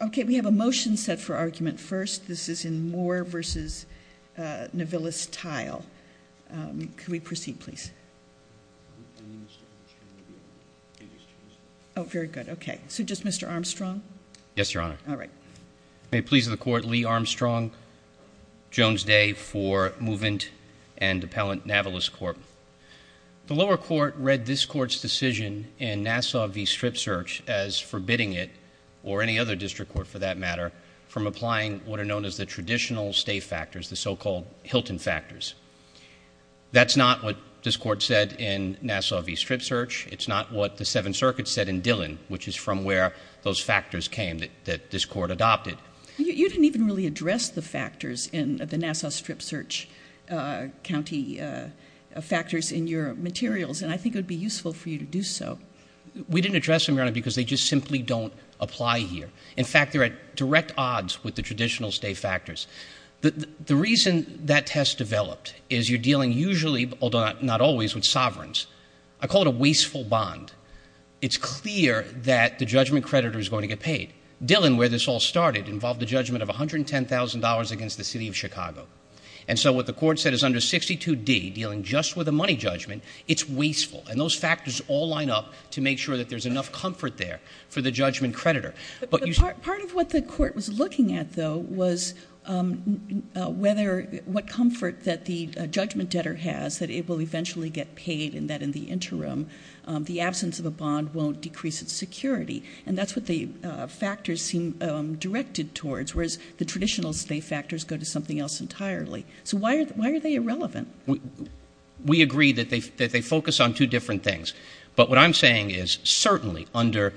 Okay, we have a motion set for argument first. This is in Moore v. Navillus Tile. Could we proceed, please? Oh, very good. Okay, so just Mr. Armstrong? Yes, Your Honor. All right. May it please the Court, Lee Armstrong, Jones Day for Movement and Appellant Navillus Court. The lower court read this Court's decision in Nassau v. Strip Search as forbidding it or any other district court, for that matter, from applying what are known as the traditional state factors, the so-called Hilton factors. That's not what this Court said in Nassau v. Strip Search. It's not what the Seventh Circuit said in Dillon, which is from where those factors came that this Court adopted. You didn't even really address the factors in the Nassau Strip Search County factors in your materials, and I think it would be useful for you to do so. We didn't address them, Your Honor, because they just simply don't apply here. In fact, they're at direct odds with the traditional state factors. The reason that test developed is you're dealing usually, although not always, with sovereigns. I call it a wasteful bond. It's clear that the judgment creditor is going to get paid. Dillon, where this all started, involved a judgment of $110,000 against the City of Chicago. And so what the Court said is under 62D, dealing just with a money judgment, it's wasteful. And those factors all line up to make sure that there's enough comfort there for the judgment creditor. But part of what the Court was looking at, though, was what comfort that the judgment debtor has, that it will eventually get paid, and that in the interim, the absence of a bond won't decrease its security. And that's what the factors seem directed towards, whereas the traditional state factors go to something else entirely. So why are they irrelevant? We agree that they focus on two different things. But what I'm saying is, certainly, under,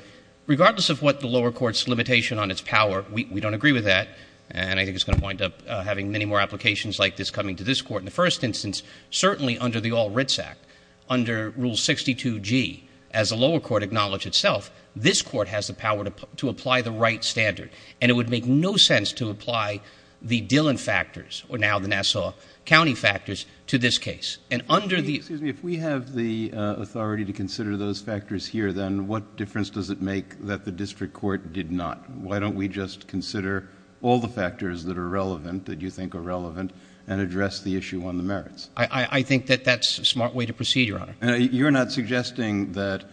regardless of what the lower court's limitation on its power, we don't agree with that, and I think it's going to wind up having many more applications like this coming to this court in the first instance, certainly under the All Writs Act, under Rule 62G, as the lower court acknowledged itself, this court has the power to apply the right standard. And it would make no sense to apply the Dillon factors, or now the Nassau County factors, to this case. And under the— Excuse me. If we have the authority to consider those factors here, then what difference does it make that the district court did not? Why don't we just consider all the factors that are relevant, that you think are relevant, and address the issue on the merits? I think that that's a smart way to proceed, Your Honor. You're not suggesting that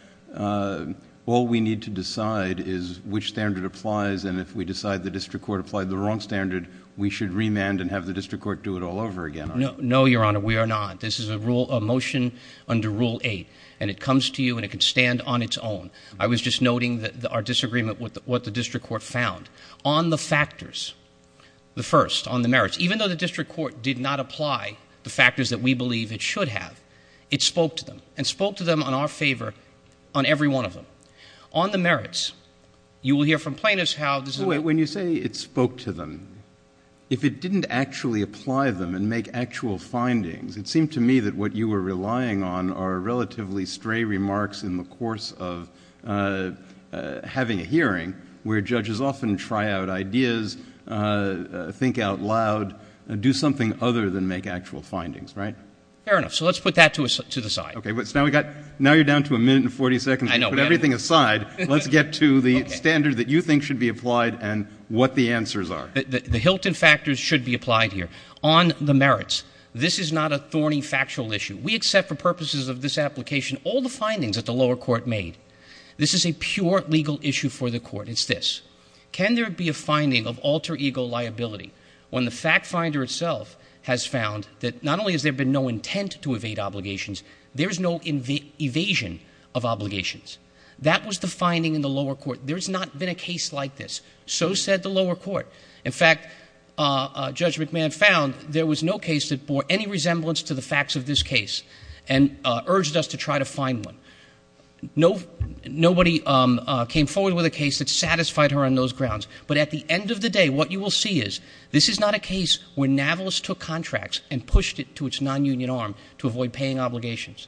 all we need to decide is which standard applies, and if we the district court applied the wrong standard, we should remand and have the district court do it all over again, are you? No, Your Honor, we are not. This is a rule, a motion under Rule 8, and it comes to you, and it can stand on its own. I was just noting our disagreement with what the district court found. On the factors, the first, on the merits, even though the district court did not apply the factors that we believe it should have, it spoke to them, and spoke to them in our favor on every one of them. On the merits, you will hear from plaintiffs how this is— When you say it spoke to them, if it didn't actually apply them and make actual findings, it seemed to me that what you were relying on are relatively stray remarks in the course of having a hearing, where judges often try out ideas, think out loud, do something other than make actual findings, right? Fair enough. So let's put that to the side. Okay. Now you're down to a minute and 40 seconds to put everything aside. Let's get to the what the answers are. The Hilton factors should be applied here. On the merits, this is not a thorny factual issue. We accept for purposes of this application all the findings that the lower court made. This is a pure legal issue for the court. It's this. Can there be a finding of alter ego liability when the fact finder itself has found that not only has there been no intent to evade obligations, there's no evasion of obligations? That was the finding in the lower court. There's not been a case like this. So said the lower court. In fact, Judge McMahon found there was no case that bore any resemblance to the facts of this case and urged us to try to find one. Nobody came forward with a case that satisfied her on those grounds. But at the end of the day, what you will see is this is not a case where Navalis took contracts and pushed it to its non-union arm to avoid paying obligations.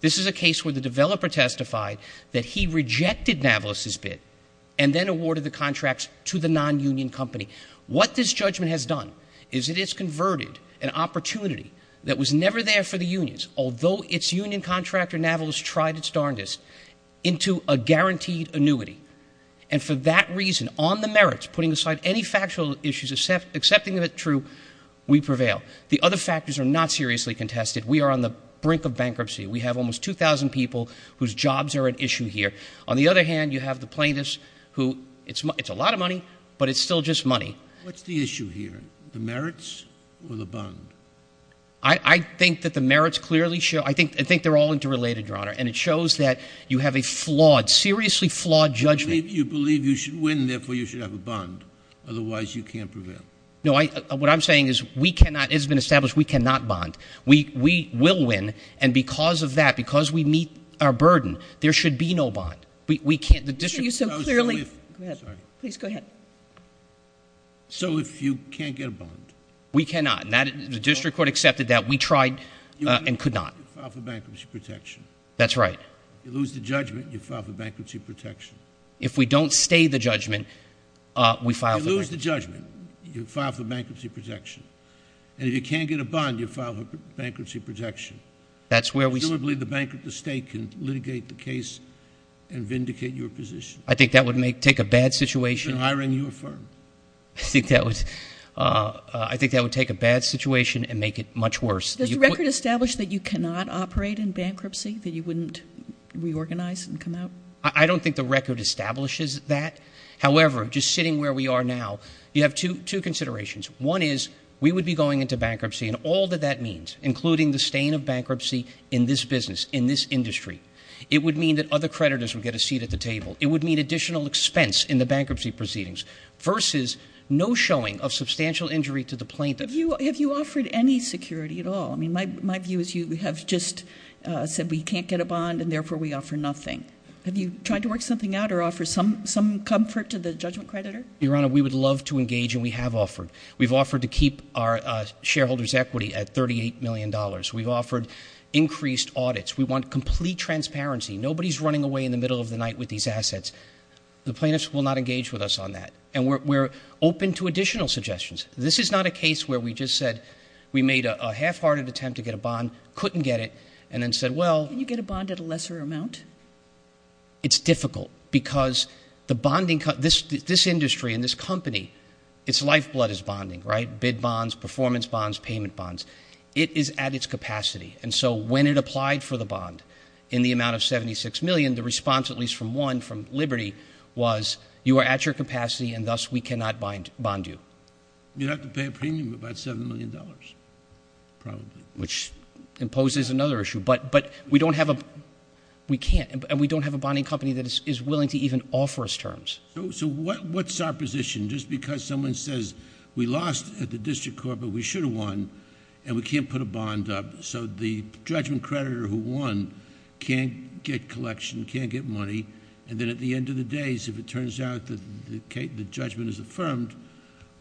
This is a case where the developer testified that he rejected Navalis' bid and then awarded the contracts to the non-union company. What this judgment has done is it has converted an opportunity that was never there for the unions, although its union contractor Navalis tried its darndest, into a guaranteed annuity. And for that reason, on the merits, putting aside any factual issues, accepting that it's true, we prevail. The other factors are not seriously contested. We are on the brink of bankruptcy. We have almost 2,000 people whose jobs are at issue here. On the other hand, you have the plaintiffs, who it's a lot of money, but it's still just money. What's the issue here? The merits or the bond? I think that the merits clearly show, I think they're all interrelated, Your Honor. And it shows that you have a flawed, seriously flawed judgment. You believe you should win, therefore you should have a bond. Otherwise, you can't prevail. No, what I'm saying is we cannot, it has been established, we cannot bond. We will win. And because of that, because we meet our burden, there should be no bond. We can't, the district So if you can't get a bond? We cannot. The district court accepted that. We tried and could not. You file for bankruptcy protection. That's right. You lose the judgment, you file for bankruptcy protection. If we don't stay the judgment, we file for bankruptcy protection. You lose the judgment, you file for bankruptcy protection. And if you can't get a bond, you file for bankruptcy protection. That's where we Presumably the bank of the state can litigate the case and vindicate your position. I think that would make, take a bad situation You've been hiring your firm. I think that was, I think that would take a bad situation and make it much worse. Does the record establish that you cannot operate in bankruptcy, that you wouldn't reorganize and come out? I don't think the record establishes that. However, just sitting where we are now, you have two considerations. One is we would be going into bankruptcy and all that that means, including the stain of bankruptcy in this business, in this industry. It would mean that other creditors would get a seat at the table. It would mean additional expense in the bankruptcy proceedings versus no showing of substantial injury to the plaintiff. Have you offered any security at all? I mean, my view is you have just said we can't get a bond and therefore we offer nothing. Have you tried to work something out or offer some comfort to the judgment creditor? Your Honor, we would love to engage and we have offered. We've offered to keep our shareholder's equity at $38 million. We've offered increased audits. We want complete transparency. Nobody's running away in the middle of the night with these assets. The plaintiffs will not engage with us on that. And we're open to additional suggestions. This is not a case where we just said we made a half-hearted attempt to get a bond, couldn't get it, and then said, well... Can you get a bond at a lesser amount? It's difficult because the bonding, this industry and this company, its lifeblood is bonding, right? Bid bonds, performance bonds, payment bonds. It is at its capacity. And so when it applied for the bond in the amount of $76 million, the response at least from one, from Liberty, was you are at your capacity and thus we cannot bond you. You'd have to pay a premium of about $7 million, probably. Which imposes another issue. But we don't have a... We can't. And we don't have a bonding company that is willing to even offer us terms. So what's our position? Just because someone says we lost at the district court, but we should have won and we can't put a bond up. So the judgment creditor who won can't get collection, can't get money. And then at the end of the day, if it turns out that the judgment is affirmed,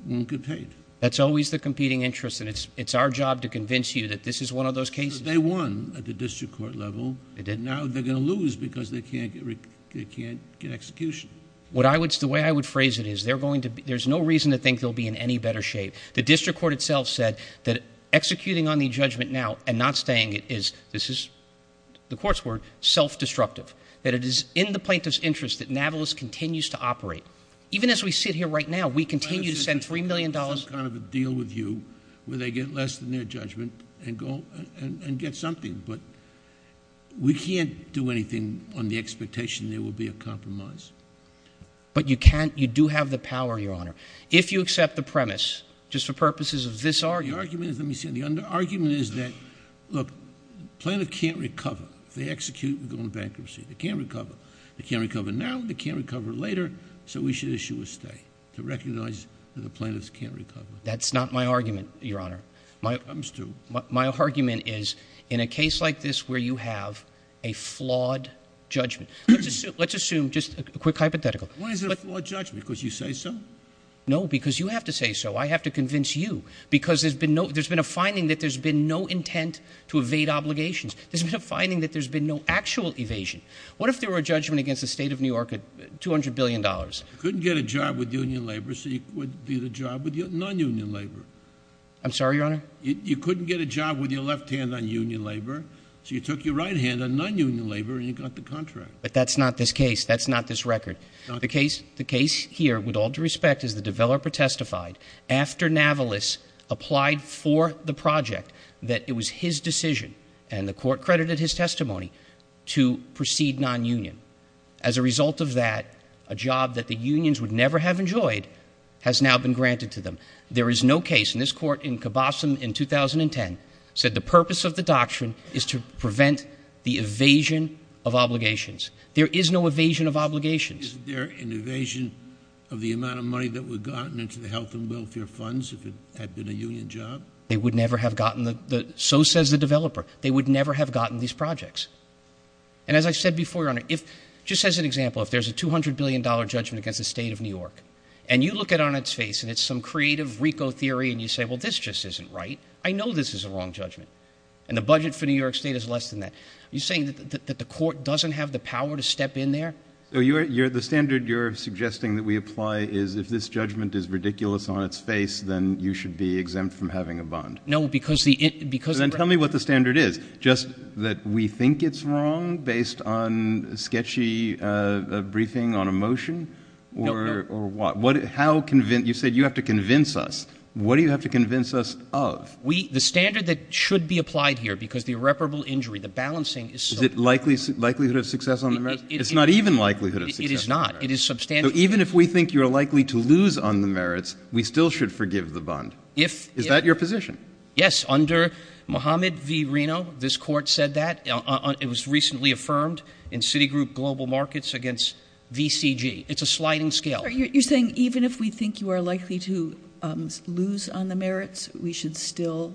won't get paid. That's always the competing interest. And it's our job to convince you that this is one of those cases. They won at the district court level. Now they're going to lose because they can't get execution. What I would... The way I would phrase it is they're going to... There's no reason to think they'll be in any better shape. The district court itself said that executing on the judgment now and not staying is... This is the court's word, self-destructive. That it is in the plaintiff's interest that Navalis continues to operate. Even as we sit here right now, we continue to send $3 million... It's some kind of a deal with you where they get less than their judgment and get something. But we can't do anything on the expectation there will be a compromise. But you can't... You do have the power, Your Honor. If you accept the premise, just for purposes of this argument... The argument is... Let me see. The argument is that, look, plaintiff can't recover. If they execute, we're going to bankruptcy. They can't recover. They can't recover now. They can't recover later. So we should issue a stay to recognize that the plaintiffs can't recover. That's not my argument, Your Honor. It comes to... My argument is in a case like this where you have a flawed judgment... Let's assume... Just a quick hypothetical. Why is it a flawed judgment? Because you say so? No, because you have to say so. I have to convince you. Because there's been no... There's been a finding that there's been no intent to evade obligations. There's been a finding that there's been no actual evasion. What if there were a judgment against the state of New York at $200 billion? You couldn't get a job with union labor, so you did a job with non-union labor. I'm sorry, Your Honor? You couldn't get a job with your left hand on union labor, so you took your right hand on non-union labor and you got the contract. But that's not this case. That's not this record. The case here, with all due respect, is the developer testified after Navalis applied for the project that it was his decision, and the court credited his testimony, to proceed non-union. As a result of that, a job that the unions would never have enjoyed has now been granted to them. There is no case... And this court in Cabossum in 2010 said the purpose of the doctrine is to prevent the evasion of obligations. There is no evasion of obligations. Isn't there an evasion of the amount of money that would have gotten into the health and welfare funds if it had been a union job? They would never have gotten the... So says the developer. They would never have gotten these projects. And as I said before, Your Honor, just as an example, if there's a $200 billion judgment against the state of New York, and you look it on its face and it's some creative RICO theory, and you say, well, this just isn't right. I know this is a wrong judgment. And the budget for New York state is less than that. Are you saying that the court doesn't have the power to step in there? So the standard you're suggesting that we apply is if this judgment is ridiculous on its face, then you should be exempt from having a bond? No, because the... Then tell me what the standard is. Just that we think it's wrong based on a sketchy briefing on a motion? No. Or what? How convince... You said you have to convince us. What do you have to convince us of? The standard that should be applied here, because the irreparable injury, the balancing is so... Is it likelihood of success on the merits? It's not even likelihood of success. It is not. It is substantial. Even if we think you're likely to lose on the merits, we still should forgive the bond. Is that your position? Yes. Under Mohammed v. Reno, this court said that. It was recently affirmed in Citigroup Global Markets against VCG. You're saying even if we think you are likely to lose on the merits, we should still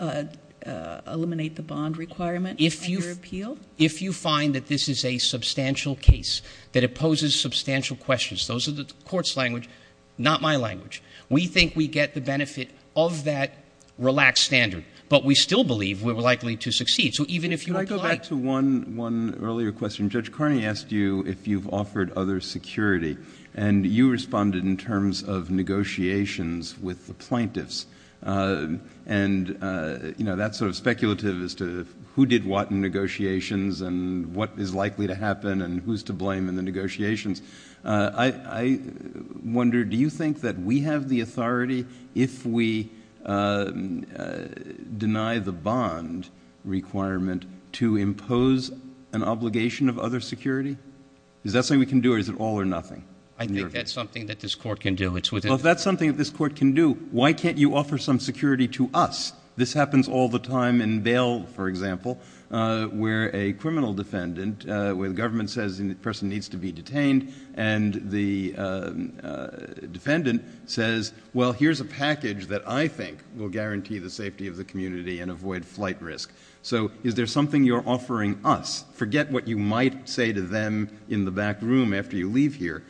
eliminate the bond requirement under appeal? If you find that this is a substantial case, that it poses substantial questions, those are the court's language, not my language. We think we get the benefit of that relaxed standard, but we still believe we're likely to succeed. So even if you apply... Can I go back to one earlier question? Judge Carney asked you if you've offered other security, and you responded in terms of negotiations with the plaintiffs. And that's sort of speculative as to who did what in negotiations and what is likely to happen and who's to blame in the negotiations. I wonder, do you think that we have the authority if we deny the bond requirement to impose an obligation of other security? Is that something we can do or is it all or nothing? I think that's something that this court can do. Well, if that's something that this court can do, why can't you offer some security to us? This happens all the time in bail, for example, where a criminal defendant, where the government says the person needs to be detained and the defendant says, well, here's a package that I think will guarantee the safety of the community and avoid flight risk. So is there something you're offering us? Forget what you might say to them in the back room after you leave here.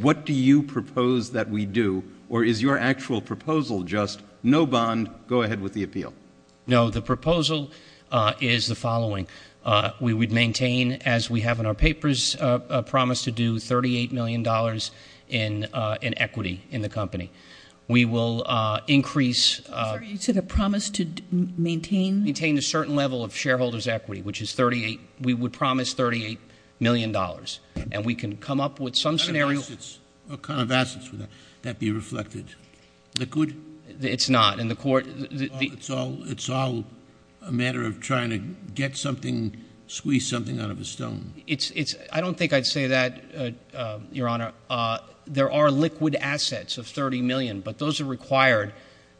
What do you propose that we do? Or is your actual proposal just no bond, go ahead with the appeal? No, the proposal is the following. We would maintain, as we have in our papers, a promise to do $38 million in equity in the company. We will increase... I'm sorry, you said a promise to maintain? Maintain a certain level of shareholders' equity, which is 38, we would promise $38 million. And we can come up with some scenario... What kind of assets would that be reflected? Liquid? It's not, in the court... It's all a matter of trying to get something, squeeze something out of a stone. I don't think I'd say that, Your Honor. There are liquid assets of $30 million, but those are required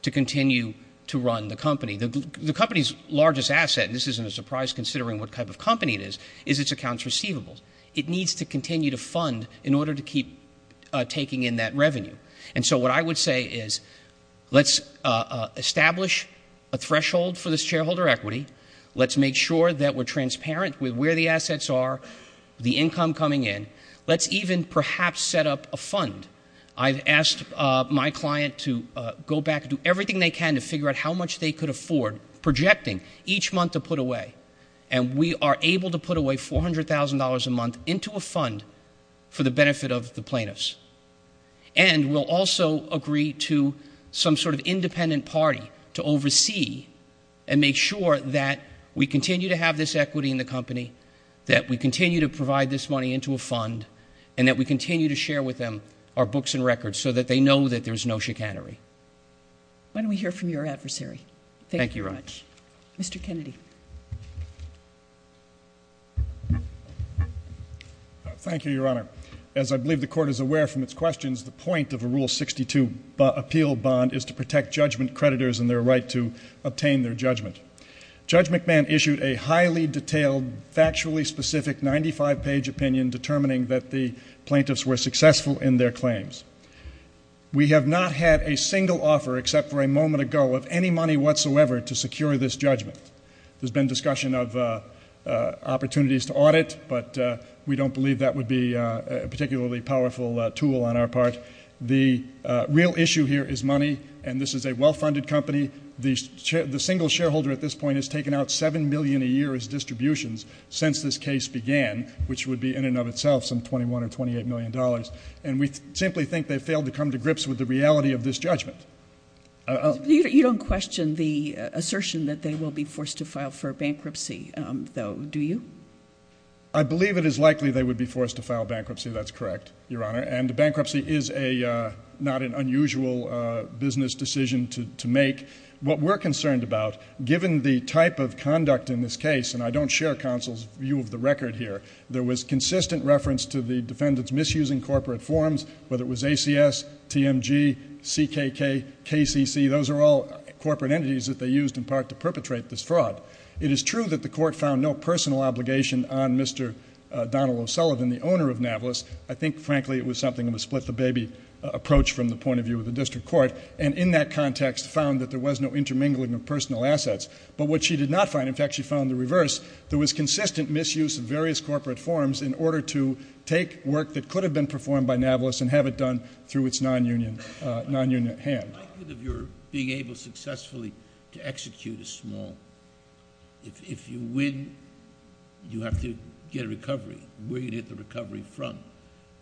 to continue to run the company. The company's largest asset, and this isn't a surprise considering what type of company it is, is its accounts receivables. It needs to continue to fund in order to keep taking in that revenue. And so what I would say is, let's establish a threshold for this shareholder equity. Let's make sure that we're transparent with where the assets are, the income coming in. Let's even perhaps set up a fund. I've asked my client to go back and do everything they can to figure out how much they could afford, projecting each month to put away. And we are able to put away $400,000 a month into a fund for the benefit of the plaintiffs. And we'll also agree to some sort of independent party to oversee and make sure that we continue to have this equity in the company, that we continue to provide this money into a fund, and that we continue to share with them our books and records so that they know that there's no chicanery. When we hear from your adversary. Thank you very much. Mr. Kennedy. Thank you, Your Honor. As I believe the Court is aware from its questions, the point of a Rule 62 appeal bond is to protect judgment creditors and their right to obtain their judgment. Judge McMahon issued a highly detailed, factually specific 95-page opinion determining that the plaintiffs were successful in their claims. We have not had a single offer, except for a moment ago, of any money whatsoever to secure this judgment. There's been discussion of opportunities to audit, but we don't believe that would be a particularly powerful tool on our part. The real issue here is money, and this is a well-funded company. The single shareholder at this point has taken out $7 million a year as distributions since this case began, which would be in and of itself some $21 or $28 million. And we simply think they failed to come to grips with the reality of this judgment. You don't question the assertion that they will be forced to file for bankruptcy, though, do you? I believe it is likely they would be forced to file bankruptcy. That's correct, Your Honor. And bankruptcy is not an unusual business decision to make. What we're concerned about, given the type of conduct in this case, and I don't share counsel's view of the record here, there was consistent reference to the defendants misusing corporate forms, whether it was ACS, TMG, CKK, KCC. Those are all corporate entities that they used in part to perpetrate this fraud. It is true that the court found no personal obligation on Mr. Donald O'Sullivan, the owner of Navalis. I think, frankly, it was something of a split-the-baby approach from the point of view of the district court, and in that context found that there was no intermingling of personal assets. But what she did not find, in fact, she found the reverse. There was consistent misuse of various corporate forms in order to take work that could have been performed by Navalis and have it done through its non-union hand. How likely are you of being able successfully to execute a small? If you win, you have to get a recovery. Where do you get the recovery from?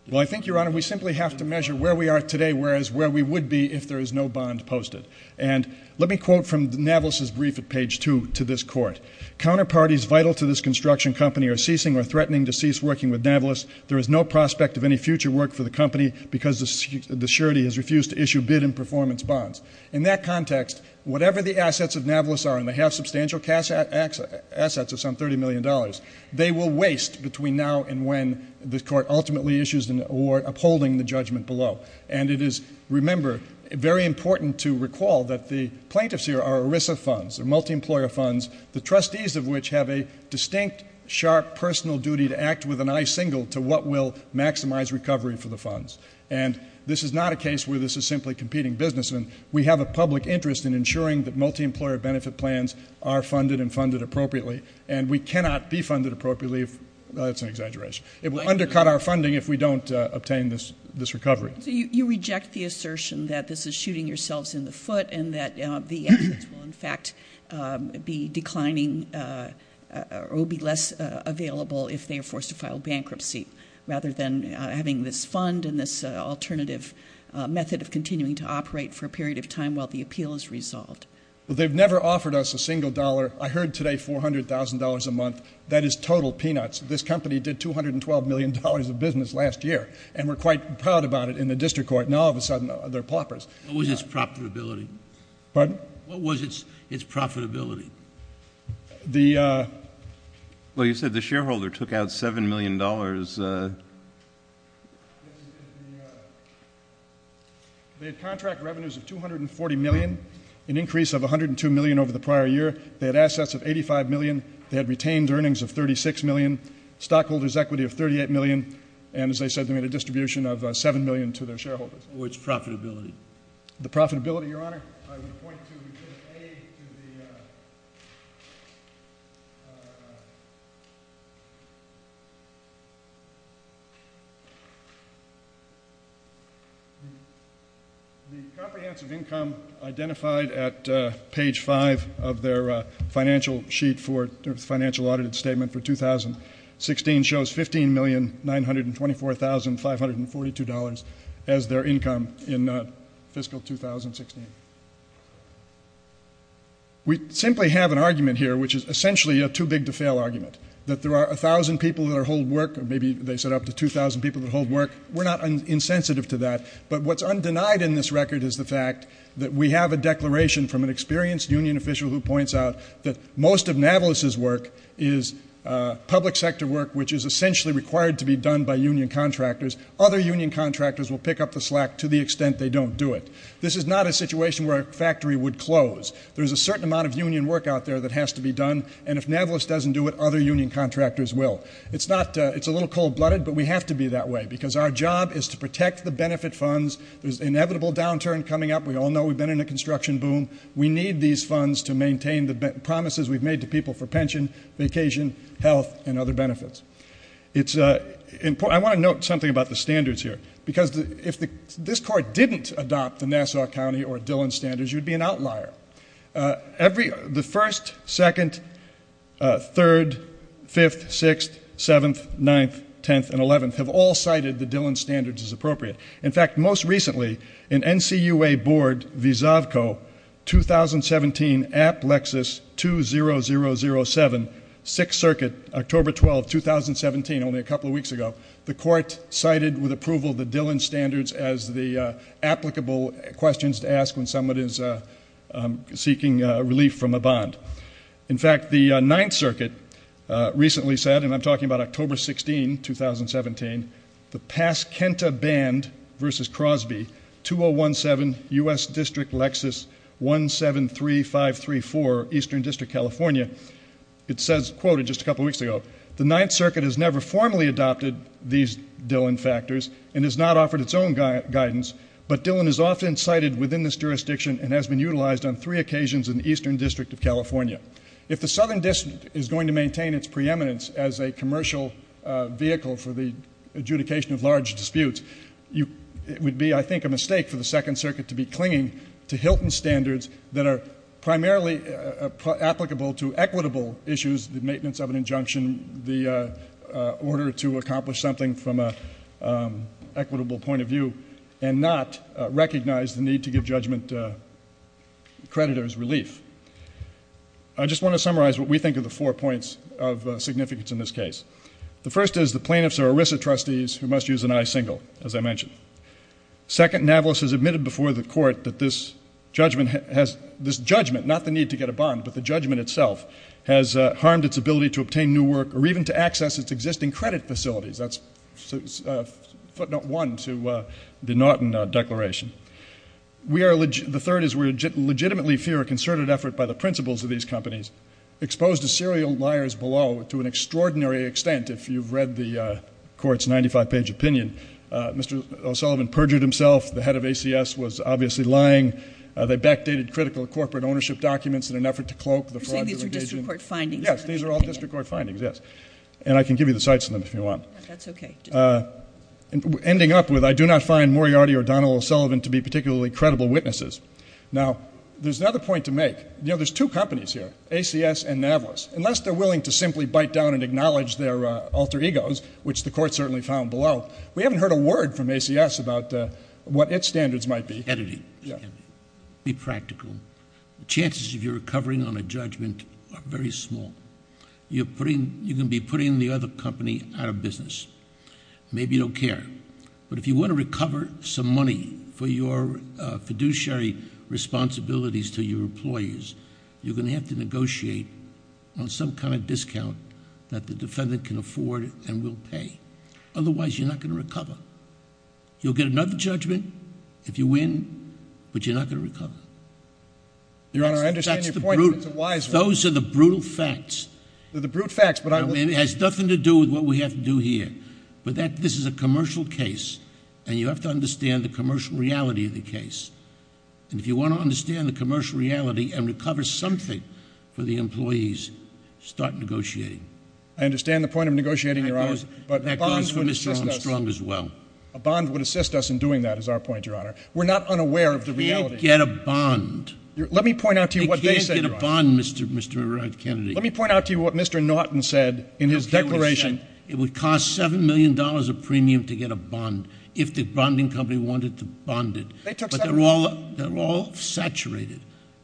Well, I think, Your Honor, we simply have to measure where we are today, whereas where we would be if there is no bond posted. And let me quote from Navalis's brief at page two to this court. Counterparties vital to this construction company are ceasing or threatening to cease working with Navalis. There is no prospect of any future work for the company because the surety has refused to issue bid and performance bonds. In that context, whatever the assets of Navalis are, and they have substantial assets of some $30 million, they will waste between now and when the court ultimately issues an award, upholding the judgment below. And it is, remember, very important to recall that the plaintiffs here are ERISA funds, they're multi-employer funds, the trustees of which have a distinct, sharp personal duty to act with an eye singled to what will maximize recovery for the funds. And this is not a case where this is simply competing businessmen. We have a public interest in ensuring that multi-employer benefit plans are funded and funded appropriately, and we cannot be funded appropriately if, that's an exaggeration, it will undercut our funding if we don't obtain this recovery. So you reject the assertion that this is shooting yourselves in the foot and that the assets will, in fact, be declining or will be less available if they are forced to file bankruptcy, rather than having this fund and this alternative method of continuing to operate for a period of time while the appeal is resolved. Well, they've never offered us a single dollar. I heard today $400,000 a month. That is total peanuts. This company did $212 million of business last year, and we're quite proud about it in the district court. Now, all of a sudden, they're paupers. What was its profitability? Pardon? What was its profitability? The— Well, you said the shareholder took out $7 million. They had contract revenues of $240 million, an increase of $102 million over the prior year. They had assets of $85 million. They had retained earnings of $36 million, stockholders' equity of $38 million, and, as I said, they made a distribution of $7 million to their shareholders. What was its profitability? The profitability, Your Honor? I would point to— The comprehensive income identified at page 5 of their financial sheet for— financial audited statement for 2016 shows $15,924,542 as their income in fiscal 2016. We simply have an argument here, which is essentially a too-big-to-fail argument, that there are 1,000 people that hold work, or maybe they said up to 2,000 people that hold work. We're not insensitive to that, but what's undenied in this record is the fact that we have a declaration from an experienced union official who points out that most of Navalis's work is public sector work, which is essentially required to be done by union contractors. Other union contractors will pick up the slack to the extent they don't do it. This is not a situation where a factory would close. There's a certain amount of union work out there that has to be done, and if Navalis doesn't do it, other union contractors will. It's a little cold-blooded, but we have to be that way because our job is to protect the benefit funds. There's inevitable downturn coming up. We all know we've been in a construction boom. We need these funds to maintain the promises we've made to people for pension, vacation, health, and other benefits. It's important... I want to note something about the standards here, because if this court didn't adopt the Nassau County or Dillon standards, you'd be an outlier. The 1st, 2nd, 3rd, 5th, 6th, 7th, 9th, 10th, and 11th have all cited the Dillon standards as appropriate. In fact, most recently, in NCUA Board v. Zavco, 2017 App Lexus 20007, 6th Circuit, October 12, 2017, only a couple of weeks ago, the court cited with approval the Dillon standards as the applicable questions to ask when someone is seeking relief from a bond. In fact, the 9th Circuit recently said, and I'm talking about October 16, 2017, the Pasquenta Band v. Crosby, 2017 U.S. District Lexus 173534, Eastern District, California. It says, quoted just a couple of weeks ago, the 9th Circuit has never formally adopted these Dillon factors and has not offered its own guidance, but Dillon is often cited within this jurisdiction and has been utilized on three occasions in the Eastern District of California. If the Southern District is going to maintain its preeminence as a commercial vehicle for the adjudication of large disputes, it would be, I think, a mistake for the 2nd Circuit to be clinging to Hilton standards that are primarily applicable to equitable issues, the maintenance of an injunction, the order to accomplish something from an equitable point of view, and not recognize the need to give judgment creditors relief. I just want to summarize what we think of the four points of significance in this case. The first is the plaintiffs are ERISA trustees who must use an I-single, as I mentioned. Second, Navolos has admitted before the court that this judgment, not the need to get a bond, but the judgment itself, has harmed its ability to obtain new work or even to access its existing credit facilities. That's footnote one to the Naughton Declaration. The third is we legitimately fear a concerted effort by the principals of these companies exposed to serial liars below, to an extraordinary extent, if you've read the court's 95-page opinion. Mr. O'Sullivan perjured himself. The head of ACS was obviously lying. They backdated critical corporate ownership documents in an effort to cloak the fraud. These are district court findings. Yes, these are all district court findings, yes. And I can give you the sites of them if you want. That's okay. Ending up with, I do not find Moriarty or Donald O'Sullivan to be particularly credible witnesses. Now, there's another point to make. There's two companies here. ACS and Navalis. Unless they're willing to simply bite down and acknowledge their alter egos, which the court certainly found below, we haven't heard a word from ACS about what its standards might be. It's editing. Be practical. The chances of you recovering on a judgment are very small. You can be putting the other company out of business. Maybe you don't care. But if you want to recover some money for your fiduciary responsibilities to your employees, you're going to have to negotiate on some kind of discount that the defendant can afford and will pay. Otherwise, you're not going to recover. You'll get another judgment if you win, but you're not going to recover. Your Honor, I understand your point, but it's a wise one. Those are the brutal facts. They're the brute facts, but I will- I mean, it has nothing to do with what we have to do here. But this is a commercial case, and you have to understand the commercial reality of the case. And if you want to understand the commercial reality and recover something for the employees, start negotiating. I understand the point of negotiating, Your Honor. That goes for Mr. Armstrong as well. A bond would assist us in doing that, is our point, Your Honor. We're not unaware of the reality. They can't get a bond. Let me point out to you what they said, Your Honor. They can't get a bond, Mr. Kennedy. Let me point out to you what Mr. Norton said in his declaration. It would cost $7 million of premium to get a bond if the bonding company wanted to bond it. They took- They're all saturated.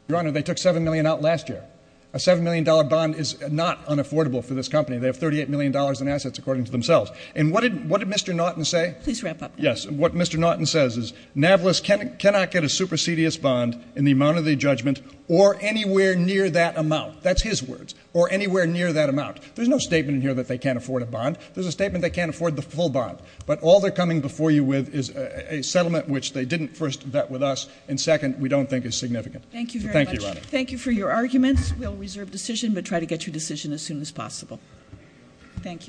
Your Honor, they took $7 million out last year. A $7 million bond is not unaffordable for this company. They have $38 million in assets, according to themselves. And what did Mr. Norton say? Please wrap up. Yes, what Mr. Norton says is NAVLAS cannot get a supersedious bond in the amount of the judgment or anywhere near that amount. That's his words. Or anywhere near that amount. There's no statement in here that they can't afford a bond. There's a statement they can't afford the full bond. But all they're coming before you with is a settlement which they didn't first vet with us and second, we don't think is significant. Thank you very much. Thank you for your arguments. We'll reserve decision but try to get your decision as soon as possible. Thank you.